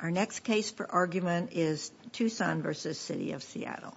Our next case for argument is Tucson v. City of Seattle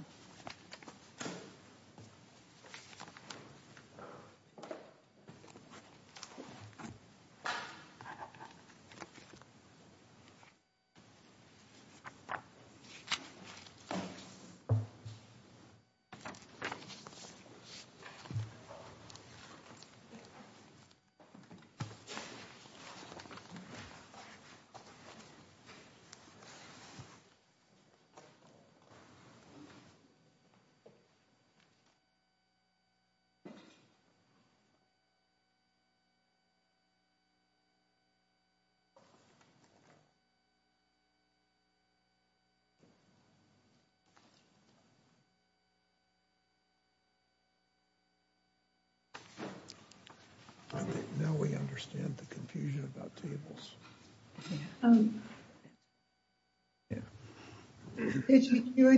Now we understand the confusion about tables. Thank you very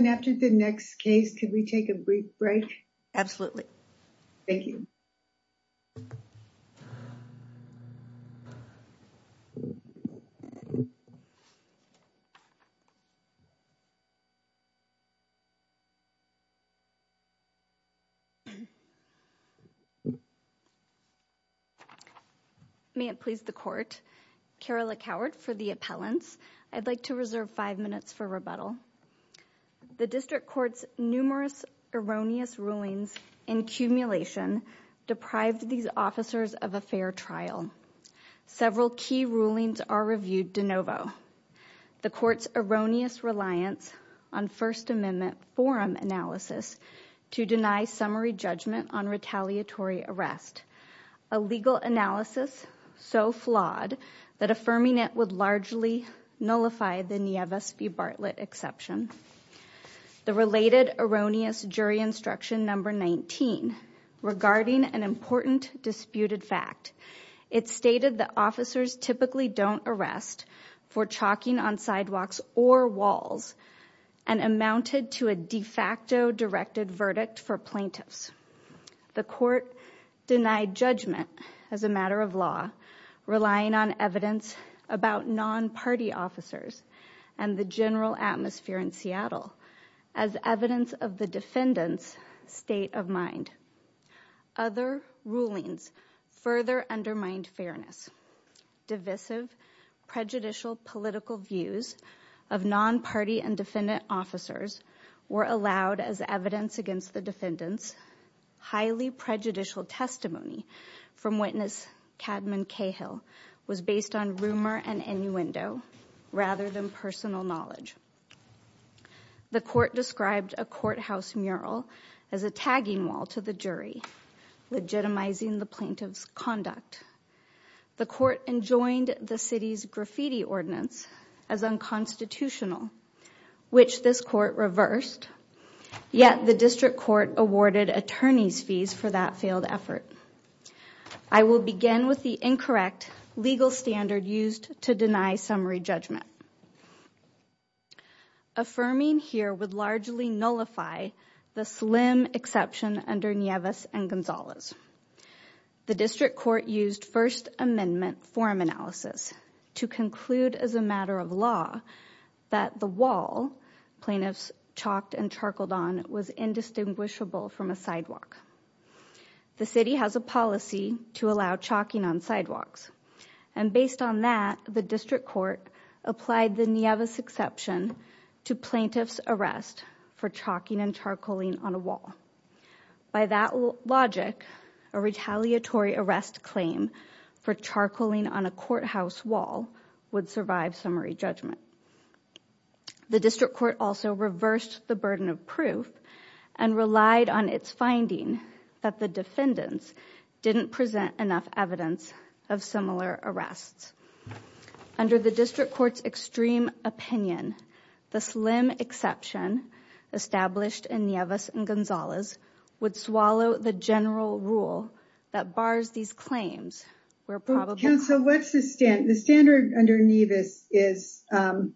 much. After the next case, can we take a brief break. Absolutely. Thank you. May it please the court. Carolyn Howard for the appellants. I'd like to reserve five minutes for rebuttal. The district court's numerous erroneous rulings and accumulation deprived these officers of a fair trial. Several key rulings are reviewed de novo. The court's erroneous reliance on First Amendment forum analysis to deny summary judgment on retaliatory arrest. A legal analysis so flawed that affirming it would largely nullify the Nieves v. Bartlett exception. The related erroneous jury instruction number 19 regarding an important disputed fact. It stated that officers typically don't arrest for chalking on sidewalks or walls and amounted to a de facto directed verdict for plaintiffs. The court denied judgment as a matter of law, relying on evidence about non-party officers and the general atmosphere in Seattle as evidence of the defendant's state of mind. Other rulings further undermined fairness. Divisive, prejudicial political views of non-party and defendant officers were allowed as evidence against the defendants. Highly prejudicial testimony from witness Cadman Cahill was based on rumor and innuendo rather than personal knowledge. The court described a courthouse mural as a tagging wall to the jury, legitimizing the plaintiff's conduct. The court enjoined the city's graffiti ordinance as unconstitutional, which this court reversed. Yet the district court awarded attorneys fees for that failed effort. I will begin with the incorrect legal standard used to deny summary judgment. Affirming here would largely nullify the slim exception under Nieves and Gonzalez. The district court used First Amendment forum analysis to conclude as a matter of law that the wall plaintiffs chalked and charcoaled on was indistinguishable from a sidewalk. The city has a policy to allow chalking on sidewalks, and based on that, the district court applied the Nieves exception to plaintiff's arrest for chalking and charcoaling on a wall. By that logic, a retaliatory arrest claim for charcoaling on a courthouse wall would survive summary judgment. The district court also reversed the burden of proof and relied on its finding that the defendants didn't present enough evidence of similar arrests. Under the district court's extreme opinion, the slim exception established in Nieves and Gonzalez would swallow the general rule that bars these claims. Counsel, the standard under Nieves is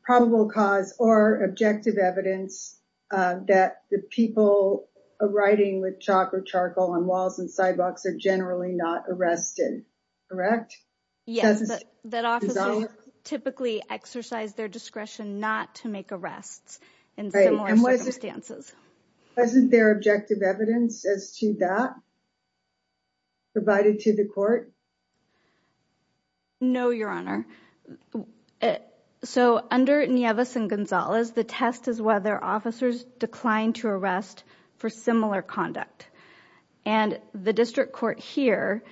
probable cause or objective evidence that the people writing with chalk or charcoal on walls and sidewalks are generally not arrested, correct? Yes, that officers typically exercise their discretion not to make arrests in similar circumstances. Wasn't there objective evidence as to that provided to the court? No, Your Honor. So under Nieves and Gonzalez, the test is whether officers declined to arrest for similar conduct. And the district court here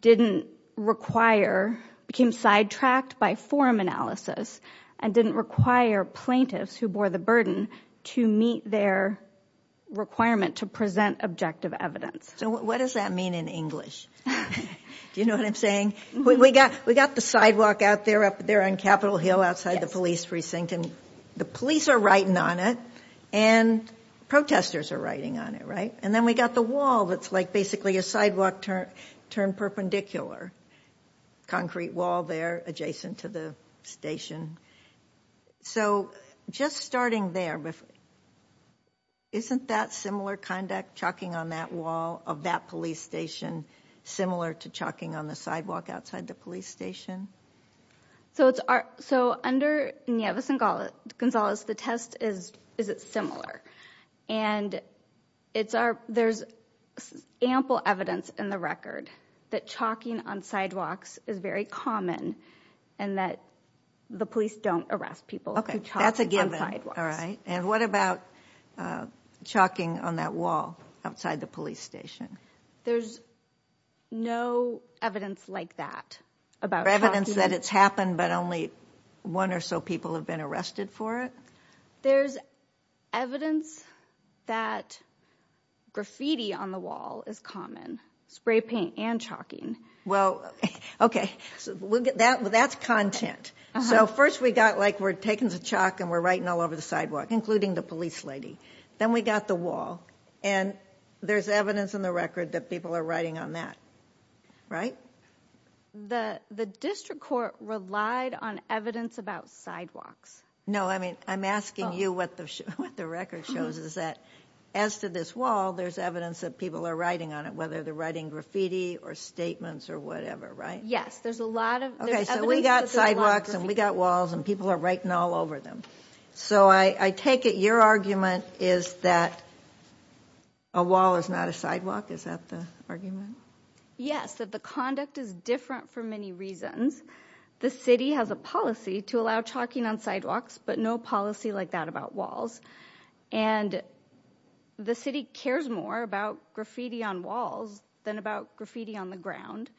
didn't require, became sidetracked by forum analysis and didn't require plaintiffs who bore the burden to meet their requirement to present objective evidence. So what does that mean in English? Do you know what I'm saying? We got the sidewalk out there on Capitol Hill outside the police precinct and the police are writing on it and protesters are writing on it, right? And then we got the wall that's like basically a sidewalk turned perpendicular, concrete wall there adjacent to the station. So just starting there, isn't that similar conduct, chalking on that wall of that police station similar to chalking on the sidewalk outside the police station? So under Nieves and Gonzalez, the test is, is it similar? And it's our, there's ample evidence in the record that chalking on sidewalks is very common and that the police don't arrest people who chalk on sidewalks. Okay, that's a given. All right. And what about chalking on that wall outside the police station? There's no evidence like that about chalking. Evidence that it's happened but only one or so people have been arrested for it? There's evidence that graffiti on the wall is common, spray paint and chalking. Well, okay. So that's content. So first we got like we're taking the chalk and we're writing all over the sidewalk, including the police lady. Then we got the wall and there's evidence in the record that people are writing on that, right? The district court relied on evidence about sidewalks. No, I mean, I'm asking you what the record shows is that as to this wall, there's evidence that people are writing on it, whether they're writing graffiti or statements or whatever, right? Yes, there's a lot of evidence. Okay, so we got sidewalks and we got walls and people are writing all over them. So I take it your argument is that a wall is not a sidewalk. Is that the argument? Yes, that the conduct is different for many reasons. The city has a policy to allow chalking on sidewalks, but no policy like that about walls. And the city cares more about graffiti on walls than about graffiti on the ground,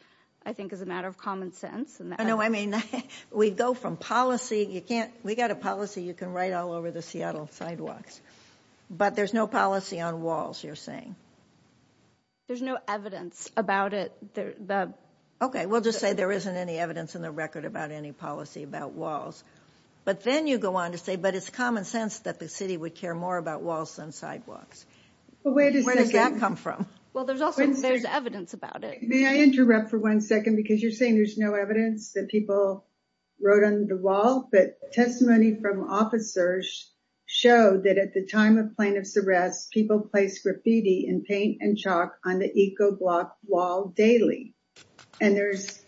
I think, is a matter of common sense. No, I mean, we go from policy. You can't we got a policy you can write all over the Seattle sidewalks, but there's no policy on walls. You're saying there's no evidence about it. Okay, we'll just say there isn't any evidence in the record about any policy about walls. But then you go on to say, but it's common sense that the city would care more about walls than sidewalks. Where does that come from? Well, there's also there's evidence about it. May I interrupt for one second? Because you're saying there's no evidence that people wrote on the wall. But testimony from officers showed that at the time of plaintiff's arrest, people placed graffiti and paint and chalk on the eco block wall daily. And there's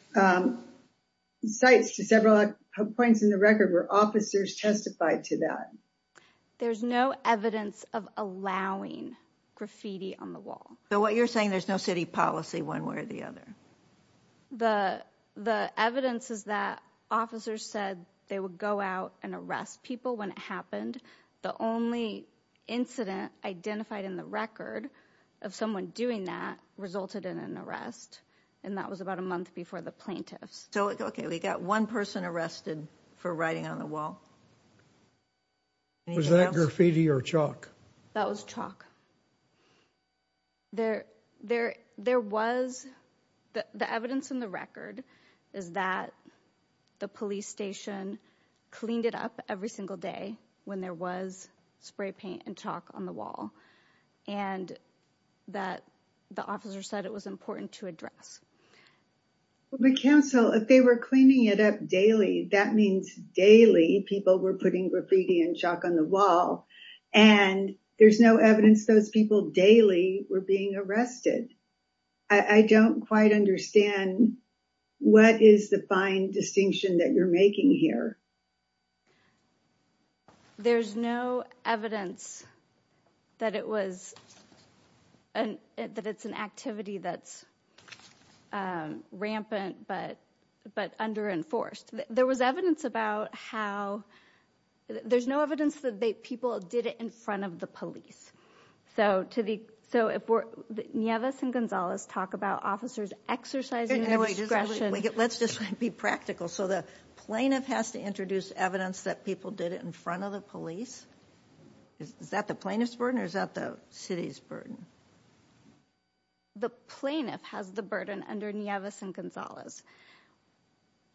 sites to several points in the record where officers testified to that. There's no evidence of allowing graffiti on the wall. So what you're saying, there's no city policy one way or the other. The evidence is that officers said they would go out and arrest people when it happened. The only incident identified in the record of someone doing that resulted in an arrest. And that was about a month before the plaintiffs. So, okay, we got one person arrested for writing on the wall. Was that graffiti or chalk? That was chalk. There was the evidence in the record is that the police station cleaned it up every single day when there was spray paint and chalk on the wall. And that the officer said it was important to address. But counsel, if they were cleaning it up daily, that means daily people were putting graffiti and chalk on the wall. And there's no evidence those people daily were being arrested. I don't quite understand. What is the fine distinction that you're making here? There's no evidence that it's an activity that's rampant but under enforced. There was evidence about how, there's no evidence that people did it in front of the police. So if Nieves and Gonzalez talk about officers exercising their discretion. Let's just be practical. So the plaintiff has to introduce evidence that people did it in front of the police? Is that the plaintiff's burden or is that the city's burden? The plaintiff has the burden under Nieves and Gonzalez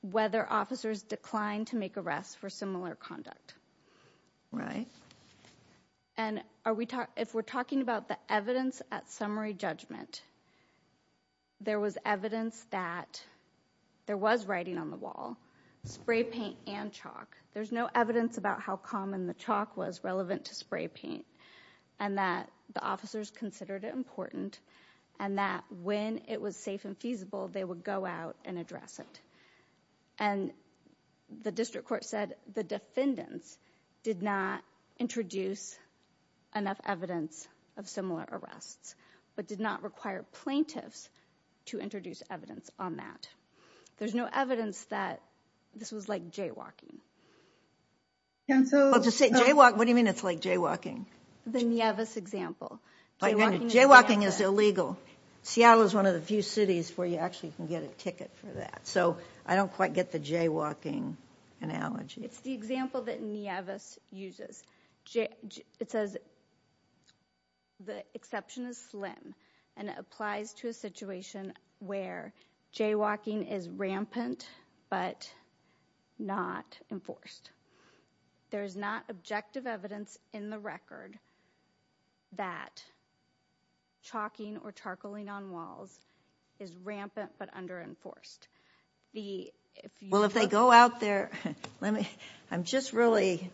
whether officers declined to make arrests for similar conduct. Right. And if we're talking about the evidence at summary judgment. There was evidence that there was writing on the wall. Spray paint and chalk. There's no evidence about how common the chalk was relevant to spray paint. And that the officers considered it important. And that when it was safe and feasible they would go out and address it. And the district court said the defendants did not introduce enough evidence of similar arrests. But did not require plaintiffs to introduce evidence on that. There's no evidence that this was like jaywalking. What do you mean it's like jaywalking? The Nieves example. Jaywalking is illegal. Seattle is one of the few cities where you actually can get a ticket for that. So I don't quite get the jaywalking analogy. It's the example that Nieves uses. It says the exception is slim and it applies to a situation where jaywalking is rampant but not enforced. There's not objective evidence in the record that chalking or charcoaling on walls is rampant but under enforced. Well if they go out there. Let me. I'm just really.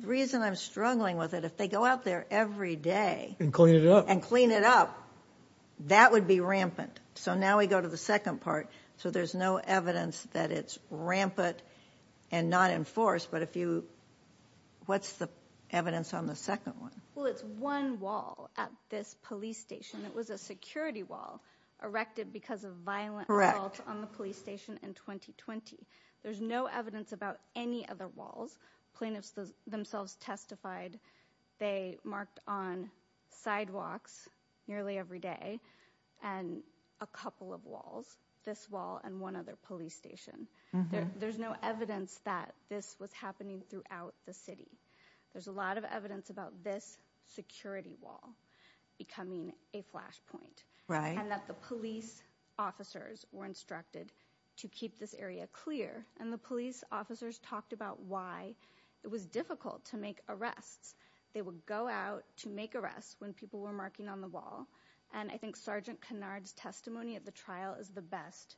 The reason I'm struggling with it. If they go out there every day. And clean it up. And clean it up. That would be rampant. So now we go to the second part. So there's no evidence that it's rampant and not enforced. But if you. What's the evidence on the second one? Well it's one wall at this police station. It was a security wall erected because of violent. Correct. On the police station in 2020. There's no evidence about any other walls. Plaintiffs themselves testified. They marked on sidewalks nearly every day. And a couple of walls. This wall and one other police station. There's no evidence that this was happening throughout the city. There's a lot of evidence about this security wall. Becoming a flashpoint. Right. And that the police officers were instructed to keep this area clear. And the police officers talked about why it was difficult to make arrests. They would go out to make arrests when people were marking on the wall. And I think Sergeant Kennard's testimony at the trial is the best.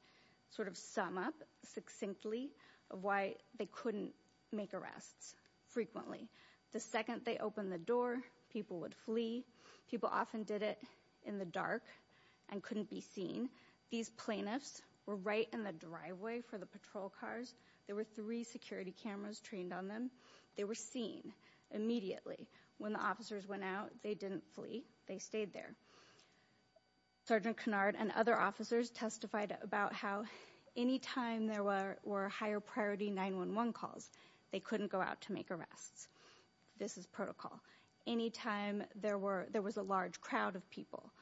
Sort of sum up succinctly. Of why they couldn't make arrests. Frequently. The second they opened the door. People would flee. People often did it in the dark. And couldn't be seen. These plaintiffs were right in the driveway for the patrol cars. There were three security cameras trained on them. They were seen. Immediately. When the officers went out. They didn't flee. They stayed there. Sergeant Kennard and other officers testified about how any time there were higher priority 911 calls. They couldn't go out to make arrests. This is protocol. Any time there was a large crowd of people.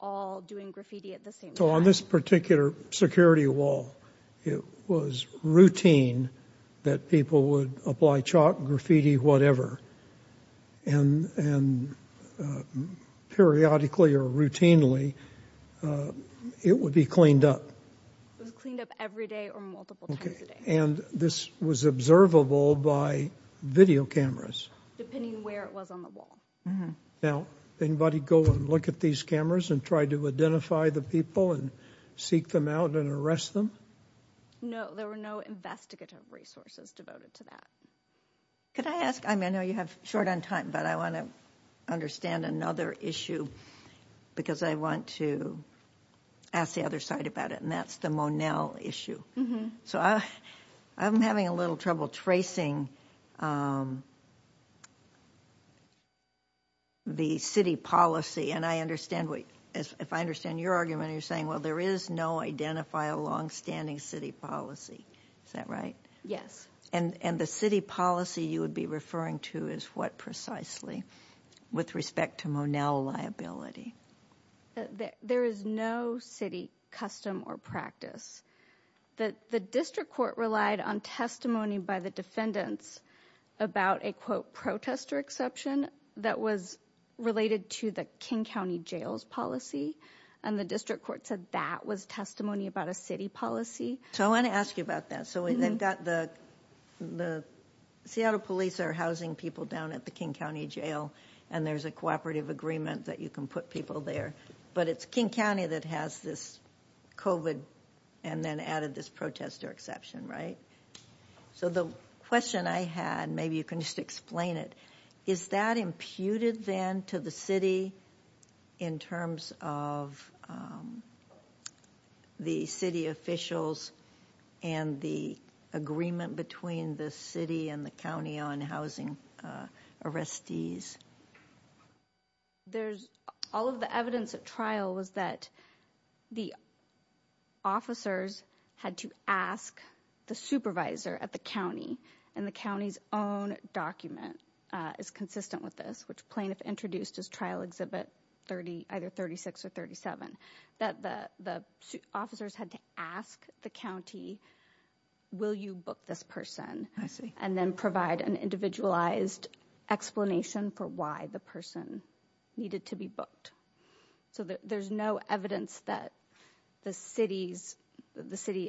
All doing graffiti at the same time. So on this particular security wall. It was routine that people would apply chalk, graffiti, whatever. And periodically or routinely it would be cleaned up. It was cleaned up every day or multiple times a day. And this was observable by video cameras. Depending where it was on the wall. Now, anybody go and look at these cameras and try to identify the people and seek them out and arrest them? No. There were no investigative resources devoted to that. Could I ask, I know you have short on time. But I want to understand another issue. Because I want to ask the other side about it. And that's the Monell issue. So I'm having a little trouble tracing the city policy. And I understand, if I understand your argument, you're saying, well, there is no identifiable longstanding city policy. Is that right? Yes. And the city policy you would be referring to is what precisely? With respect to Monell liability. There is no city custom or practice. The district court relied on testimony by the defendants about a, quote, protestor exception. That was related to the King County Jail's policy. And the district court said that was testimony about a city policy. So I want to ask you about that. So they've got the Seattle police are housing people down at the King County Jail. And there's a cooperative agreement that you can put people there. But it's King County that has this COVID and then added this protestor exception. Right. So the question I had, maybe you can just explain it. Is that imputed then to the city in terms of the city officials and the agreement between the city and the county on housing arrestees? There's all of the evidence at trial was that the officers had to ask the supervisor at the county and the county's own document is consistent with this, which plaintiff introduced as trial exhibit 30, either 36 or 37. That the officers had to ask the county, will you book this person? I see. And then provide an individualized explanation for why the person needed to be booked. So there's no evidence that the city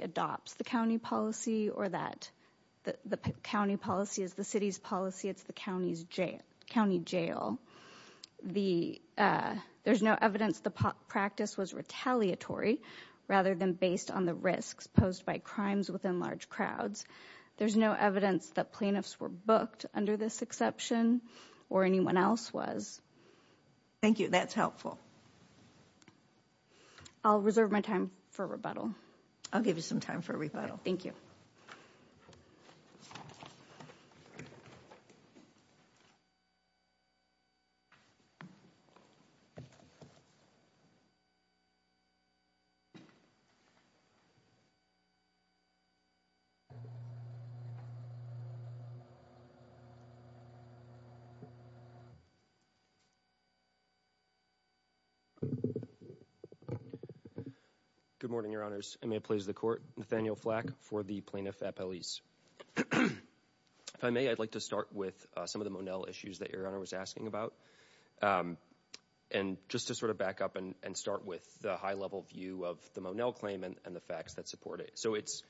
adopts the county policy or that the county policy is the city's policy. It's the county jail. There's no evidence the practice was retaliatory rather than based on the risks posed by crimes within large crowds. There's no evidence that plaintiffs were booked under this exception or anyone else was. Thank you. That's helpful. I'll reserve my time for rebuttal. I'll give you some time for rebuttal. Thank you. Good morning, your honors. May it please the court. Nathaniel Flack for the plaintiff at police. If I may, I'd like to start with some of the Monell issues that your honor was asking about. And just to sort of back up and start with the high level view of the Monell claim and the facts that support it. So it's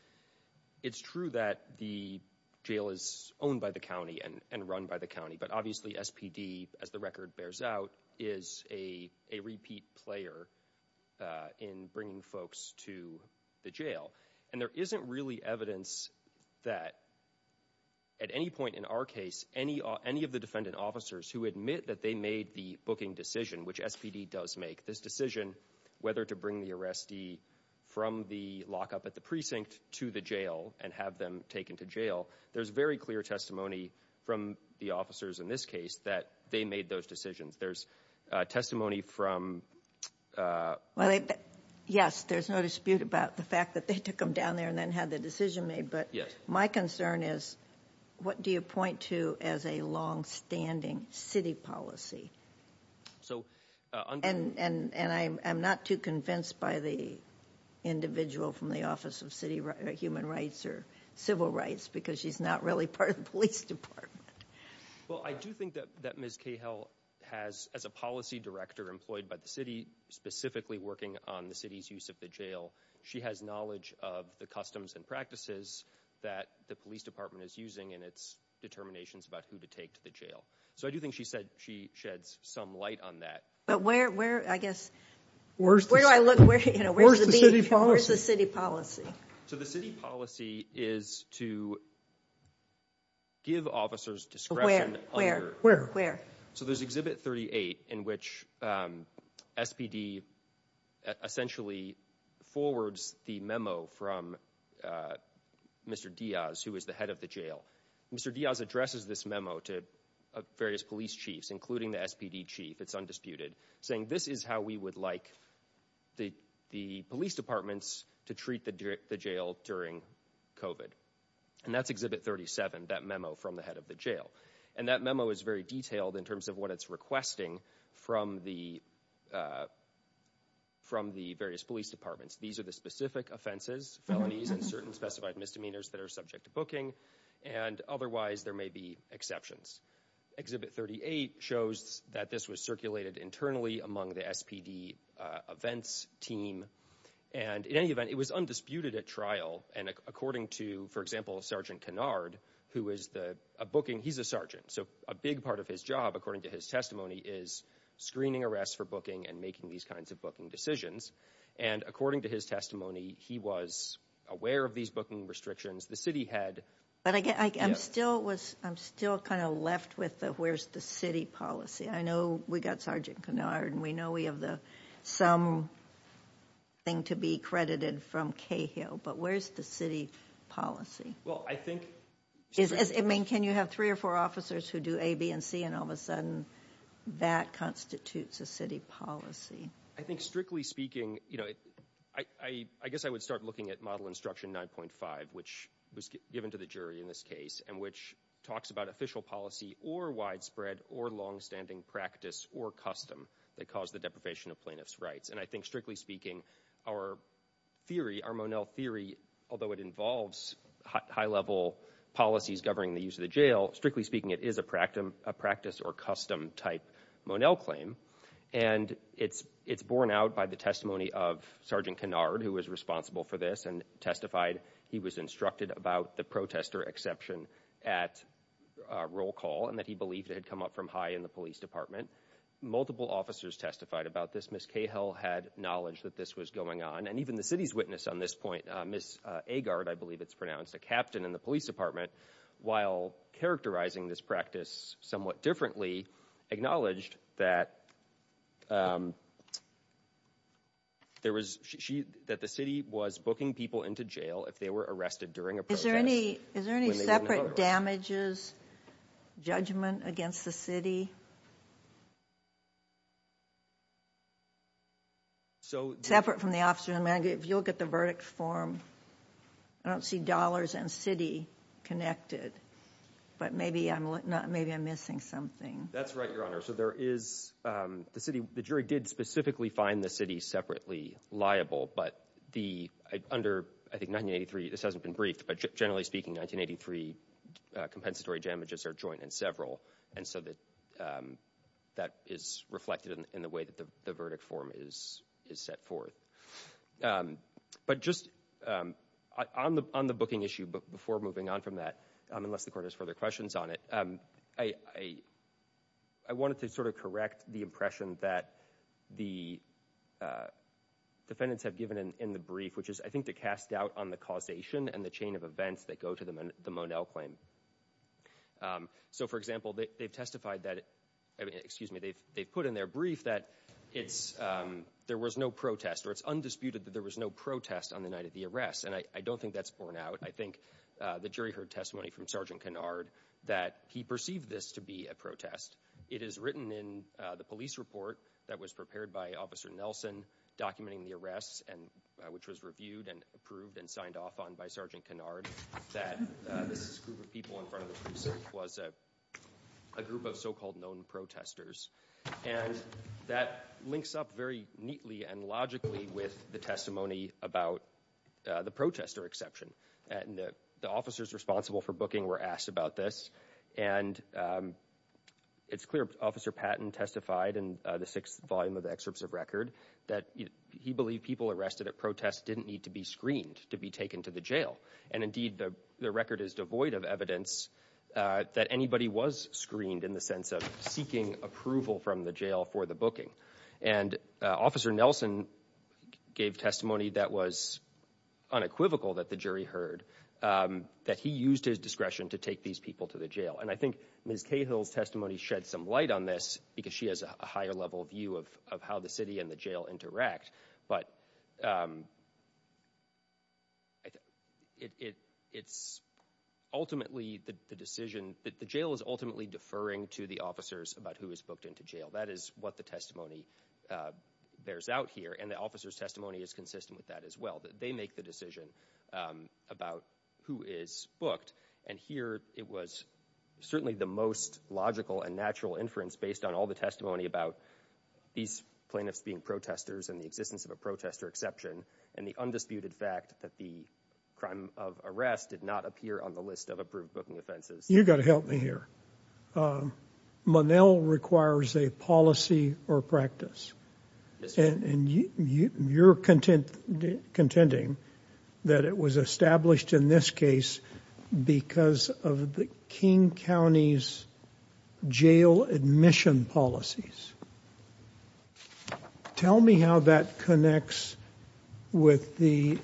true that the jail is owned by the county and run by the county. But obviously SPD, as the record bears out, is a repeat player in bringing folks to the jail. And there isn't really evidence that at any point in our case, any of the defendant officers who admit that they made the booking decision, which SPD does make, this decision whether to bring the arrestee from the lockup at the precinct to the jail and have them taken to jail. There's very clear testimony from the officers in this case that they made those decisions. There's testimony from- Yes, there's no dispute about the fact that they took them down there and then had the decision made. But my concern is what do you point to as a longstanding city policy? And I'm not too convinced by the individual from the Office of Human Rights or Civil Rights because she's not really part of the police department. Well, I do think that Ms. Cahill has, as a policy director employed by the city, specifically working on the city's use of the jail, she has knowledge of the customs and practices that the police department is using and its determinations about who to take to the jail. So I do think she said she sheds some light on that. But where do I look? Where's the city policy? So the city policy is to give officers discretion. Where? So there's Exhibit 38 in which SPD essentially forwards the memo from Mr. Diaz, who is the head of the jail. Mr. Diaz addresses this memo to various police chiefs, including the SPD chief, it's undisputed, saying this is how we would like the police departments to treat the jail during COVID. And that's Exhibit 37, that memo from the head of the jail. And that memo is very detailed in terms of what it's requesting from the various police departments. These are the specific offenses, felonies, and certain specified misdemeanors that are subject to booking. And otherwise, there may be exceptions. Exhibit 38 shows that this was circulated internally among the SPD events team. And in any event, it was undisputed at trial. And according to, for example, Sergeant Kennard, who is the – a booking – he's a sergeant. So a big part of his job, according to his testimony, is screening arrests for booking and making these kinds of booking decisions. And according to his testimony, he was aware of these booking restrictions. The city had – But I'm still kind of left with the where's the city policy. I know we got Sergeant Kennard, and we know we have some thing to be credited from Cahill. But where's the city policy? Well, I think – I mean, can you have three or four officers who do A, B, and C, and all of a sudden that constitutes a city policy? I think strictly speaking, you know, I guess I would start looking at Model Instruction 9.5, which was given to the jury in this case and which talks about official policy or widespread or longstanding practice or custom that caused the deprivation of plaintiff's rights. And I think, strictly speaking, our theory, our Monell theory, although it involves high-level policies governing the use of the jail, strictly speaking, it is a practice or custom-type Monell claim. And it's borne out by the testimony of Sergeant Kennard, who was responsible for this and testified. He was instructed about the protester exception at roll call and that he believed it had come up from high in the police department. Multiple officers testified about this. Ms. Cahill had knowledge that this was going on. And even the city's witness on this point, Ms. Agard, I believe it's pronounced a captain in the police department, while characterizing this practice somewhat differently, acknowledged that the city was booking people into jail if they were arrested during a protest. Is there any separate damages, judgment against the city? Separate from the officer. If you look at the verdict form, I don't see dollars and city connected. But maybe I'm missing something. That's right, Your Honor. So there is the city. The jury did specifically find the city separately liable. But under, I think, 1983, this hasn't been briefed, but generally speaking, 1983 compensatory damages are joint and several. And so that is reflected in the way that the verdict form is set forth. But just on the booking issue before moving on from that, unless the court has further questions on it, I wanted to sort of correct the impression that the defendants have given in the brief, which is, I think, to cast doubt on the causation and the chain of events that go to the Monell claim. So, for example, they've testified that, excuse me, they've put in their brief that there was no protest, or it's undisputed that there was no protest on the night of the arrest. And I don't think that's borne out. I think the jury heard testimony from Sergeant Kennard that he perceived this to be a protest. It is written in the police report that was prepared by Officer Nelson documenting the arrests, which was reviewed and approved and signed off on by Sergeant Kennard, that this group of people in front of the precinct was a group of so-called known protesters. And that links up very neatly and logically with the testimony about the protester exception. And the officers responsible for booking were asked about this. And it's clear Officer Patton testified in the sixth volume of the excerpts of record that he believed people arrested at protests didn't need to be screened to be taken to the jail. And indeed, the record is devoid of evidence that anybody was screened in the sense of seeking approval from the jail for the booking. And Officer Nelson gave testimony that was unequivocal that the jury heard, that he used his discretion to take these people to the jail. And I think Ms. Cahill's testimony shed some light on this because she has a higher level view of how the city and the jail interact. But it's ultimately the decision that the jail is ultimately deferring to the officers about who is booked into jail. That is what the testimony bears out here. And the officers' testimony is consistent with that as well, that they make the decision about who is booked. And here it was certainly the most logical and natural inference based on all the testimony about these plaintiffs being protesters and the existence of a protester exception and the undisputed fact that the crime of arrest did not appear on the list of approved booking offenses. You've got to help me here. Monell requires a policy or practice. And you're contending that it was established in this case because of the King County's jail admission policies. Tell me how that connects with the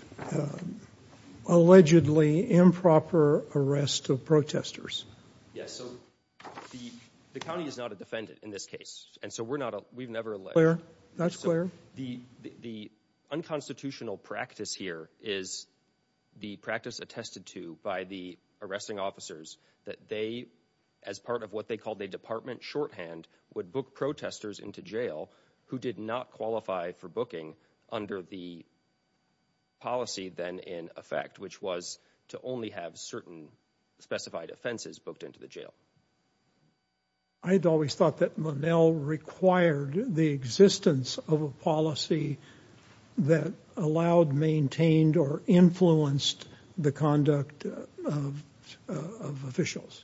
allegedly improper arrest of protesters. Yes, so the county is not a defendant in this case. That's clear. The unconstitutional practice here is the practice attested to by the arresting officers that they, as part of what they called a department shorthand, would book protesters into jail who did not qualify for booking under the policy then in effect, which was to only have certain specified offenses booked into the jail. I'd always thought that Monell required the existence of a policy that allowed, maintained, or influenced the conduct of officials.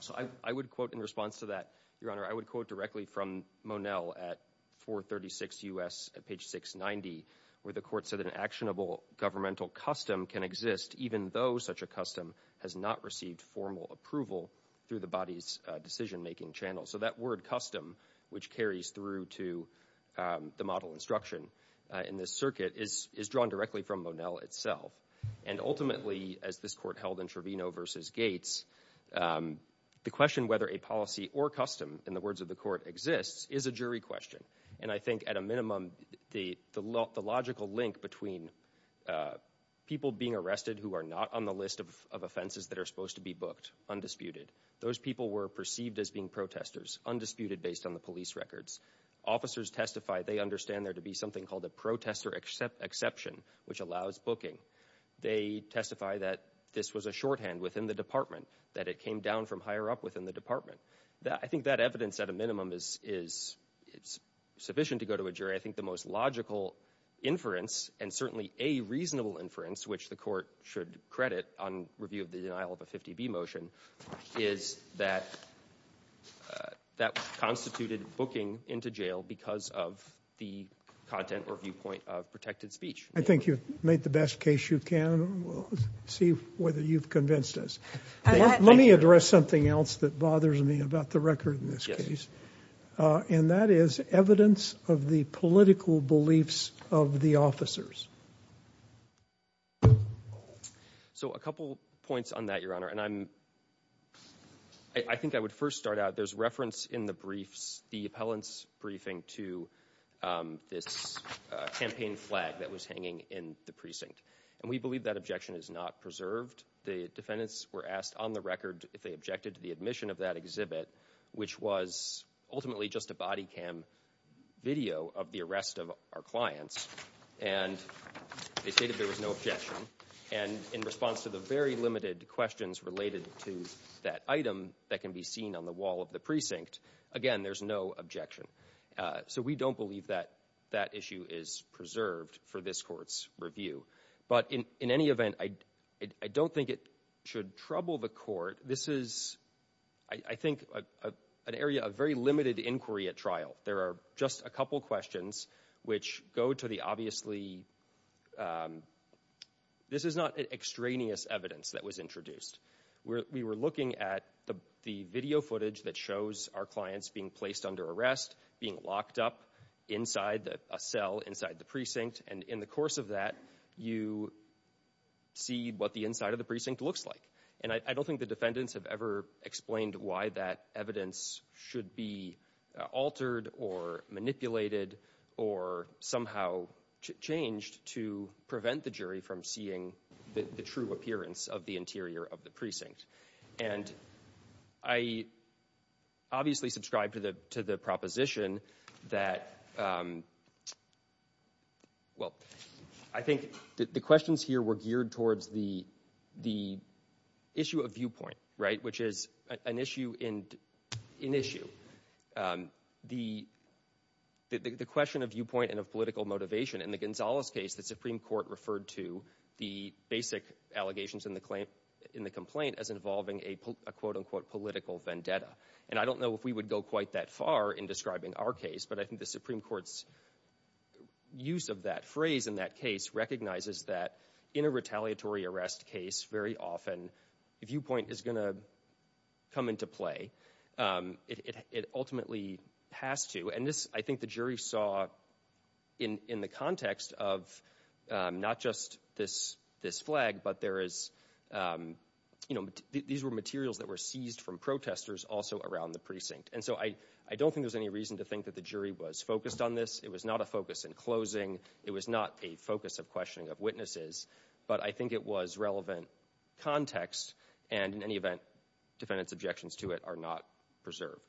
So I would quote in response to that, Your Honor, I would quote directly from Monell at 436 U.S. at page 690, where the court said that an actionable governmental custom can exist even though such a custom has not received formal approval through the body's decision-making channel. So that word custom, which carries through to the model instruction in this circuit, is drawn directly from Monell itself. And ultimately, as this court held in Trevino v. Gates, the question whether a policy or custom, in the words of the court, exists is a jury question. And I think at a minimum, the logical link between people being arrested who are not on the list of offenses that are supposed to be booked, undisputed. Those people were perceived as being protesters, undisputed based on the police records. Officers testify they understand there to be something called a protester exception, which allows booking. They testify that this was a shorthand within the department, that it came down from higher up within the department. I think that evidence, at a minimum, is sufficient to go to a jury. I think the most logical inference, and certainly a reasonable inference, which the court should credit on review of the denial of a 50B motion, is that that constituted booking into jail because of the content or viewpoint of protected speech. I think you've made the best case you can. We'll see whether you've convinced us. Let me address something else that bothers me about the record in this case, and that is evidence of the political beliefs of the officers. So a couple points on that, Your Honor. I think I would first start out, there's reference in the briefs, the appellant's briefing to this campaign flag that was hanging in the precinct. And we believe that objection is not preserved. The defendants were asked on the record if they objected to the admission of that exhibit, which was ultimately just a body cam video of the arrest of our clients, and they stated there was no objection. And in response to the very limited questions related to that item that can be seen on the wall of the precinct, again, there's no objection. So we don't believe that that issue is preserved for this court's review. But in any event, I don't think it should trouble the court. This is, I think, an area of very limited inquiry at trial. There are just a couple questions which go to the obviously, this is not extraneous evidence that was introduced. We were looking at the video footage that shows our clients being placed under arrest, being locked up inside a cell inside the precinct, and in the course of that, you see what the inside of the precinct looks like. And I don't think the defendants have ever explained why that evidence should be altered or manipulated or somehow changed to prevent the jury from seeing the true appearance of the interior of the precinct. And I obviously subscribe to the proposition that, well, I think the questions here were geared towards the issue of viewpoint, right, which is an issue in issue. The question of viewpoint and of political motivation, in the Gonzalez case, the Supreme Court referred to the basic allegations in the complaint as involving a, quote, unquote, political vendetta. And I don't know if we would go quite that far in describing our case, but I think the Supreme Court's use of that phrase in that case recognizes that in a retaliatory arrest case, very often, the viewpoint is going to come into play. It ultimately has to. And this, I think, the jury saw in the context of not just this flag, but there is, you know, these were materials that were seized from protesters also around the precinct. And so I don't think there's any reason to think that the jury was focused on this. It was not a focus in closing. It was not a focus of questioning of witnesses. But I think it was relevant context. And in any event, defendants' objections to it are not preserved.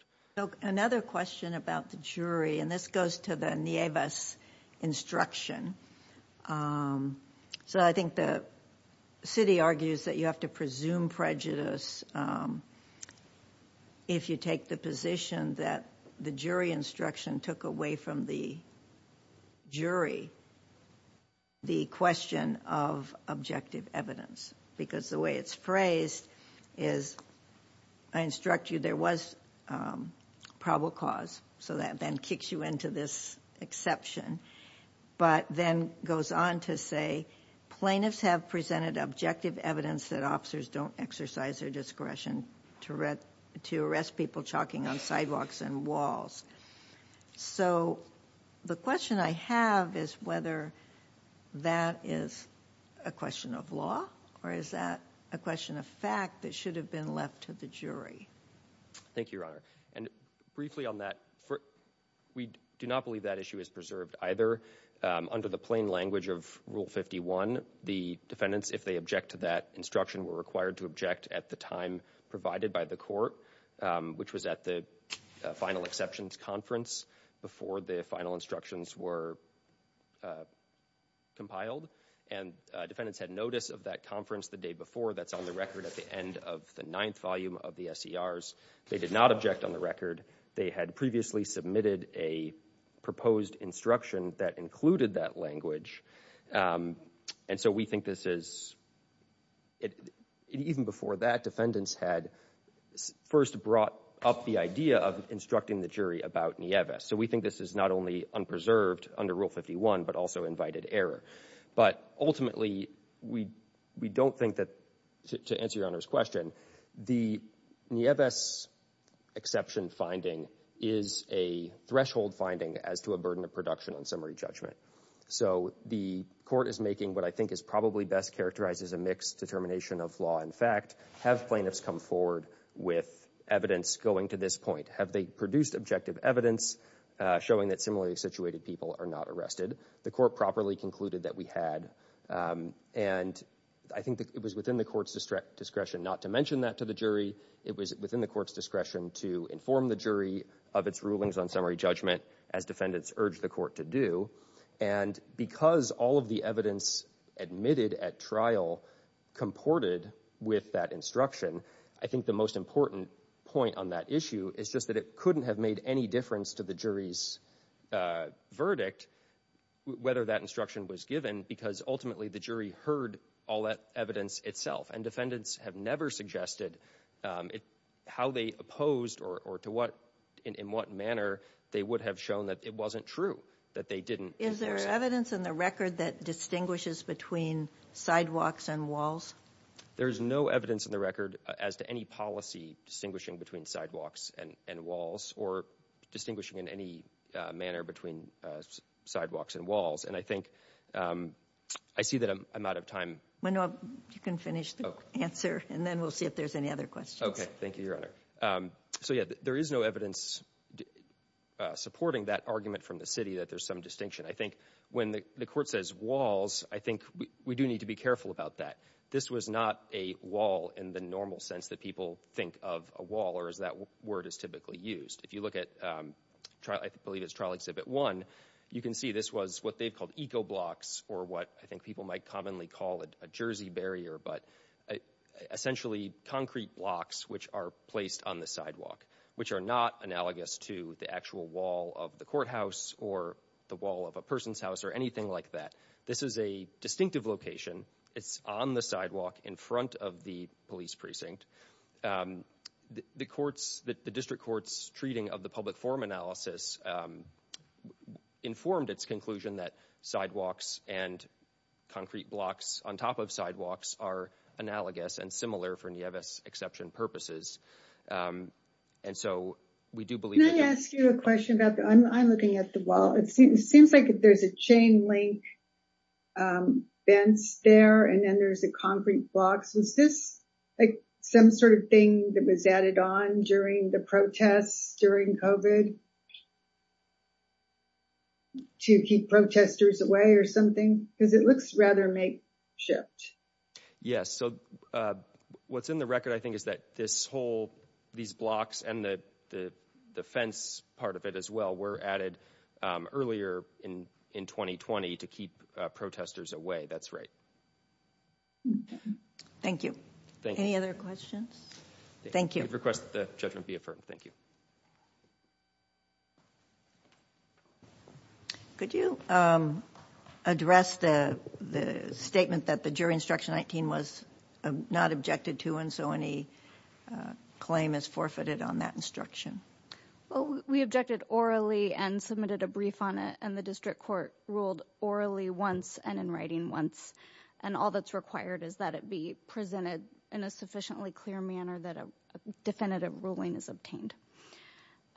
Another question about the jury, and this goes to the Nieves instruction. So I think the city argues that you have to presume prejudice if you take the position that the jury instruction took away from the jury the question of objective evidence. Because the way it's phrased is, I instruct you there was probable cause, so that then kicks you into this exception. But then goes on to say, plaintiffs have presented objective evidence that officers don't exercise their discretion to arrest people chalking on sidewalks and walls. So the question I have is whether that is a question of law, or is that a question of fact that should have been left to the jury. Thank you, Your Honor. And briefly on that, we do not believe that issue is preserved. Either under the plain language of Rule 51, the defendants, if they object to that instruction, were required to object at the time provided by the court, which was at the final exceptions conference before the final instructions were compiled. And defendants had notice of that conference the day before. That's on the record at the end of the ninth volume of the SCRs. They did not object on the record. They had previously submitted a proposed instruction that included that language. And so we think this is, even before that, defendants had first brought up the idea of instructing the jury about Nieves. So we think this is not only unpreserved under Rule 51, but also invited error. But ultimately, we don't think that, to answer Your Honor's question, the Nieves exception finding is a threshold finding as to a burden of production on summary judgment. So the court is making what I think is probably best characterized as a mixed determination of law and fact. Have plaintiffs come forward with evidence going to this point? Have they produced objective evidence showing that similarly situated people are not arrested? The court properly concluded that we had. And I think it was within the court's discretion not to mention that to the jury. It was within the court's discretion to inform the jury of its rulings on summary judgment, as defendants urged the court to do. And because all of the evidence admitted at trial comported with that instruction, I think the most important point on that issue is just that it couldn't have made any difference to the jury's verdict, whether that instruction was given, because ultimately the jury heard all that evidence itself. And defendants have never suggested how they opposed or in what manner they would have shown that it wasn't true, that they didn't endorse it. Is there evidence in the record that distinguishes between sidewalks and walls? There is no evidence in the record as to any policy distinguishing between sidewalks and walls or distinguishing in any manner between sidewalks and walls. And I think I see that I'm out of time. You can finish the answer, and then we'll see if there's any other questions. Okay. Thank you, Your Honor. So, yeah, there is no evidence supporting that argument from the city that there's some distinction. I think when the court says walls, I think we do need to be careful about that. This was not a wall in the normal sense that people think of a wall, or as that word is typically used. If you look at, I believe it's Trial Exhibit 1, you can see this was what they called eco-blocks or what I think people might commonly call a jersey barrier, but essentially concrete blocks which are placed on the sidewalk, which are not analogous to the actual wall of the courthouse or the wall of a person's house or anything like that. This is a distinctive location. It's on the sidewalk in front of the police precinct. The district court's treating of the public forum analysis informed its conclusion that sidewalks and concrete blocks on top of sidewalks are analogous and similar for Nieves exception purposes. And so we do believe that- Can I ask you a question about that? I'm looking at the wall. It seems like there's a chain link fence there, and then there's a concrete block. Was this some sort of thing that was added on during the protests during COVID to keep protesters away or something? Because it looks rather makeshift. Yes. So what's in the record, I think, is that this whole- these blocks and the fence part of it as well were added earlier in 2020 to keep protesters away. That's right. Thank you. Any other questions? Thank you. I request that the judgment be affirmed. Thank you. Could you address the statement that the jury instruction 19 was not objected to, and so any claim is forfeited on that instruction? Well, we objected orally and submitted a brief on it, and the district court ruled orally once and in writing once. And all that's required is that it be presented in a sufficiently clear manner that a definitive ruling is obtained.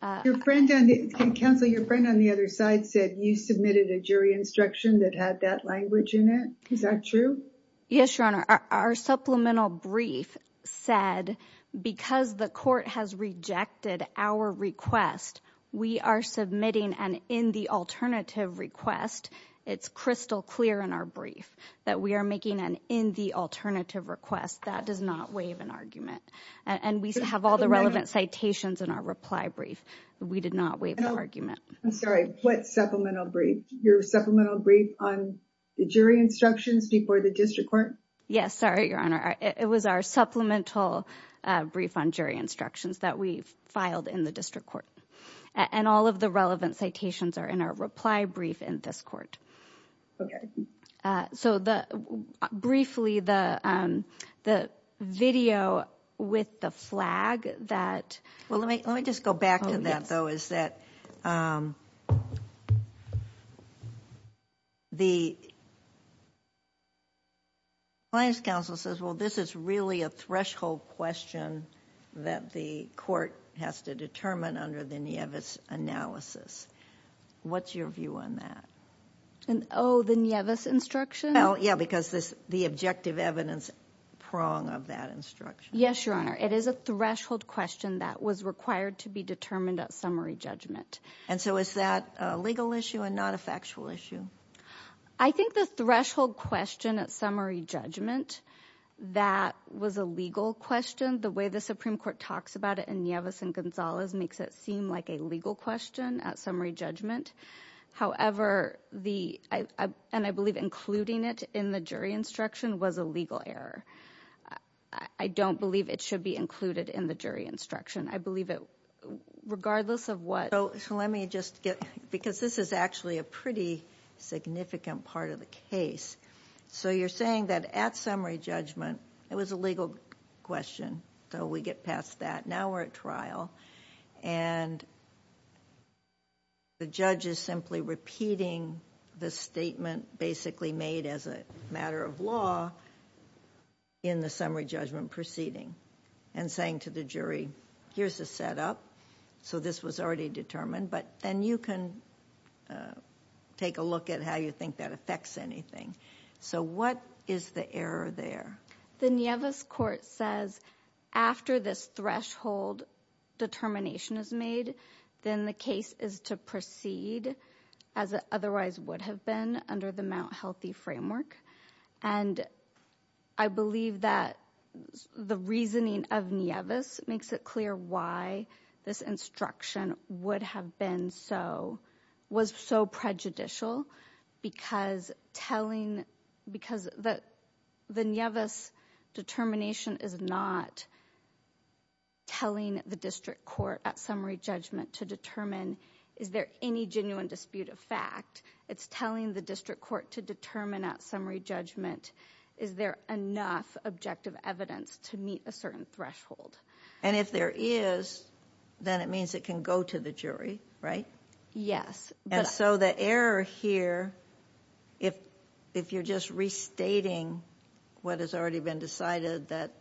Counsel, your friend on the other side said you submitted a jury instruction that had that language in it. Is that true? Yes, Your Honor. Our supplemental brief said because the court has rejected our request, we are submitting an in-the-alternative request. It's crystal clear in our brief that we are making an in-the-alternative request. That does not waive an argument. And we have all the relevant citations in our reply brief. We did not waive the argument. I'm sorry. What supplemental brief? Your supplemental brief on the jury instructions before the district court? Yes. Sorry, Your Honor. It was our supplemental brief on jury instructions that we filed in the district court. And all of the relevant citations are in our reply brief in this court. Okay. So briefly, the video with the flag that— Well, let me just go back to that, though, is that the client's counsel says, well, this is really a threshold question that the court has to determine under the Nieves analysis. What's your view on that? Oh, the Nieves instruction? Well, yeah, because the objective evidence prong of that instruction. Yes, Your Honor. It is a threshold question that was required to be determined at summary judgment. And so is that a legal issue and not a factual issue? I think the threshold question at summary judgment, that was a legal question. The way the Supreme Court talks about it in Nieves and Gonzalez makes it seem like a legal question at summary judgment. However, the—and I believe including it in the jury instruction was a legal error. I don't believe it should be included in the jury instruction. I believe it—regardless of what— So let me just get—because this is actually a pretty significant part of the case. So you're saying that at summary judgment, it was a legal question, so we get past that. Now we're at trial, and the judge is simply repeating the statement basically made as a matter of law in the summary judgment proceeding and saying to the jury, here's the setup. So this was already determined, but then you can take a look at how you think that affects anything. So what is the error there? The Nieves court says after this threshold determination is made, then the case is to proceed as it otherwise would have been under the Mount Healthy framework. And I believe that the reasoning of Nieves makes it clear why this instruction would have been so—was so prejudicial because telling—because the Nieves determination is not telling the district court at summary judgment to determine, is there any genuine dispute of fact? It's telling the district court to determine at summary judgment, is there enough objective evidence to meet a certain threshold? And if there is, then it means it can go to the jury, right? Yes. And so the error here, if you're just restating what has already been decided that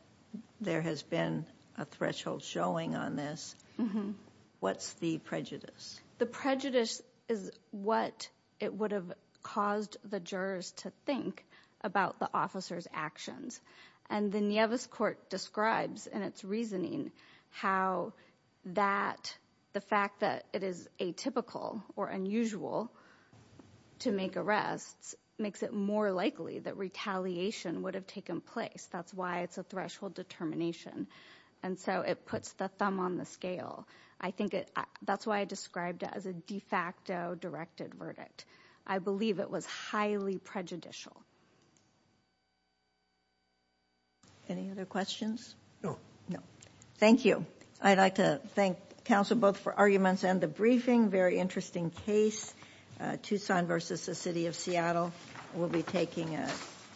there has been a threshold showing on this, what's the prejudice? The prejudice is what it would have caused the jurors to think about the officer's actions. And the Nieves court describes in its reasoning how that—the fact that it is atypical or unusual to make arrests makes it more likely that retaliation would have taken place. That's why it's a threshold determination. And so it puts the thumb on the scale. I think it—that's why I described it as a de facto directed verdict. I believe it was highly prejudicial. Any other questions? No. No. Thank you. I'd like to thank counsel both for arguments and the briefing. Very interesting case, Tucson versus the City of Seattle. We'll be taking a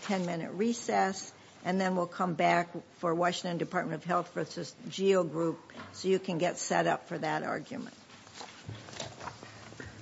10-minute recess, and then we'll come back for Washington Department of Health versus GEO Group, so you can get set up for that argument.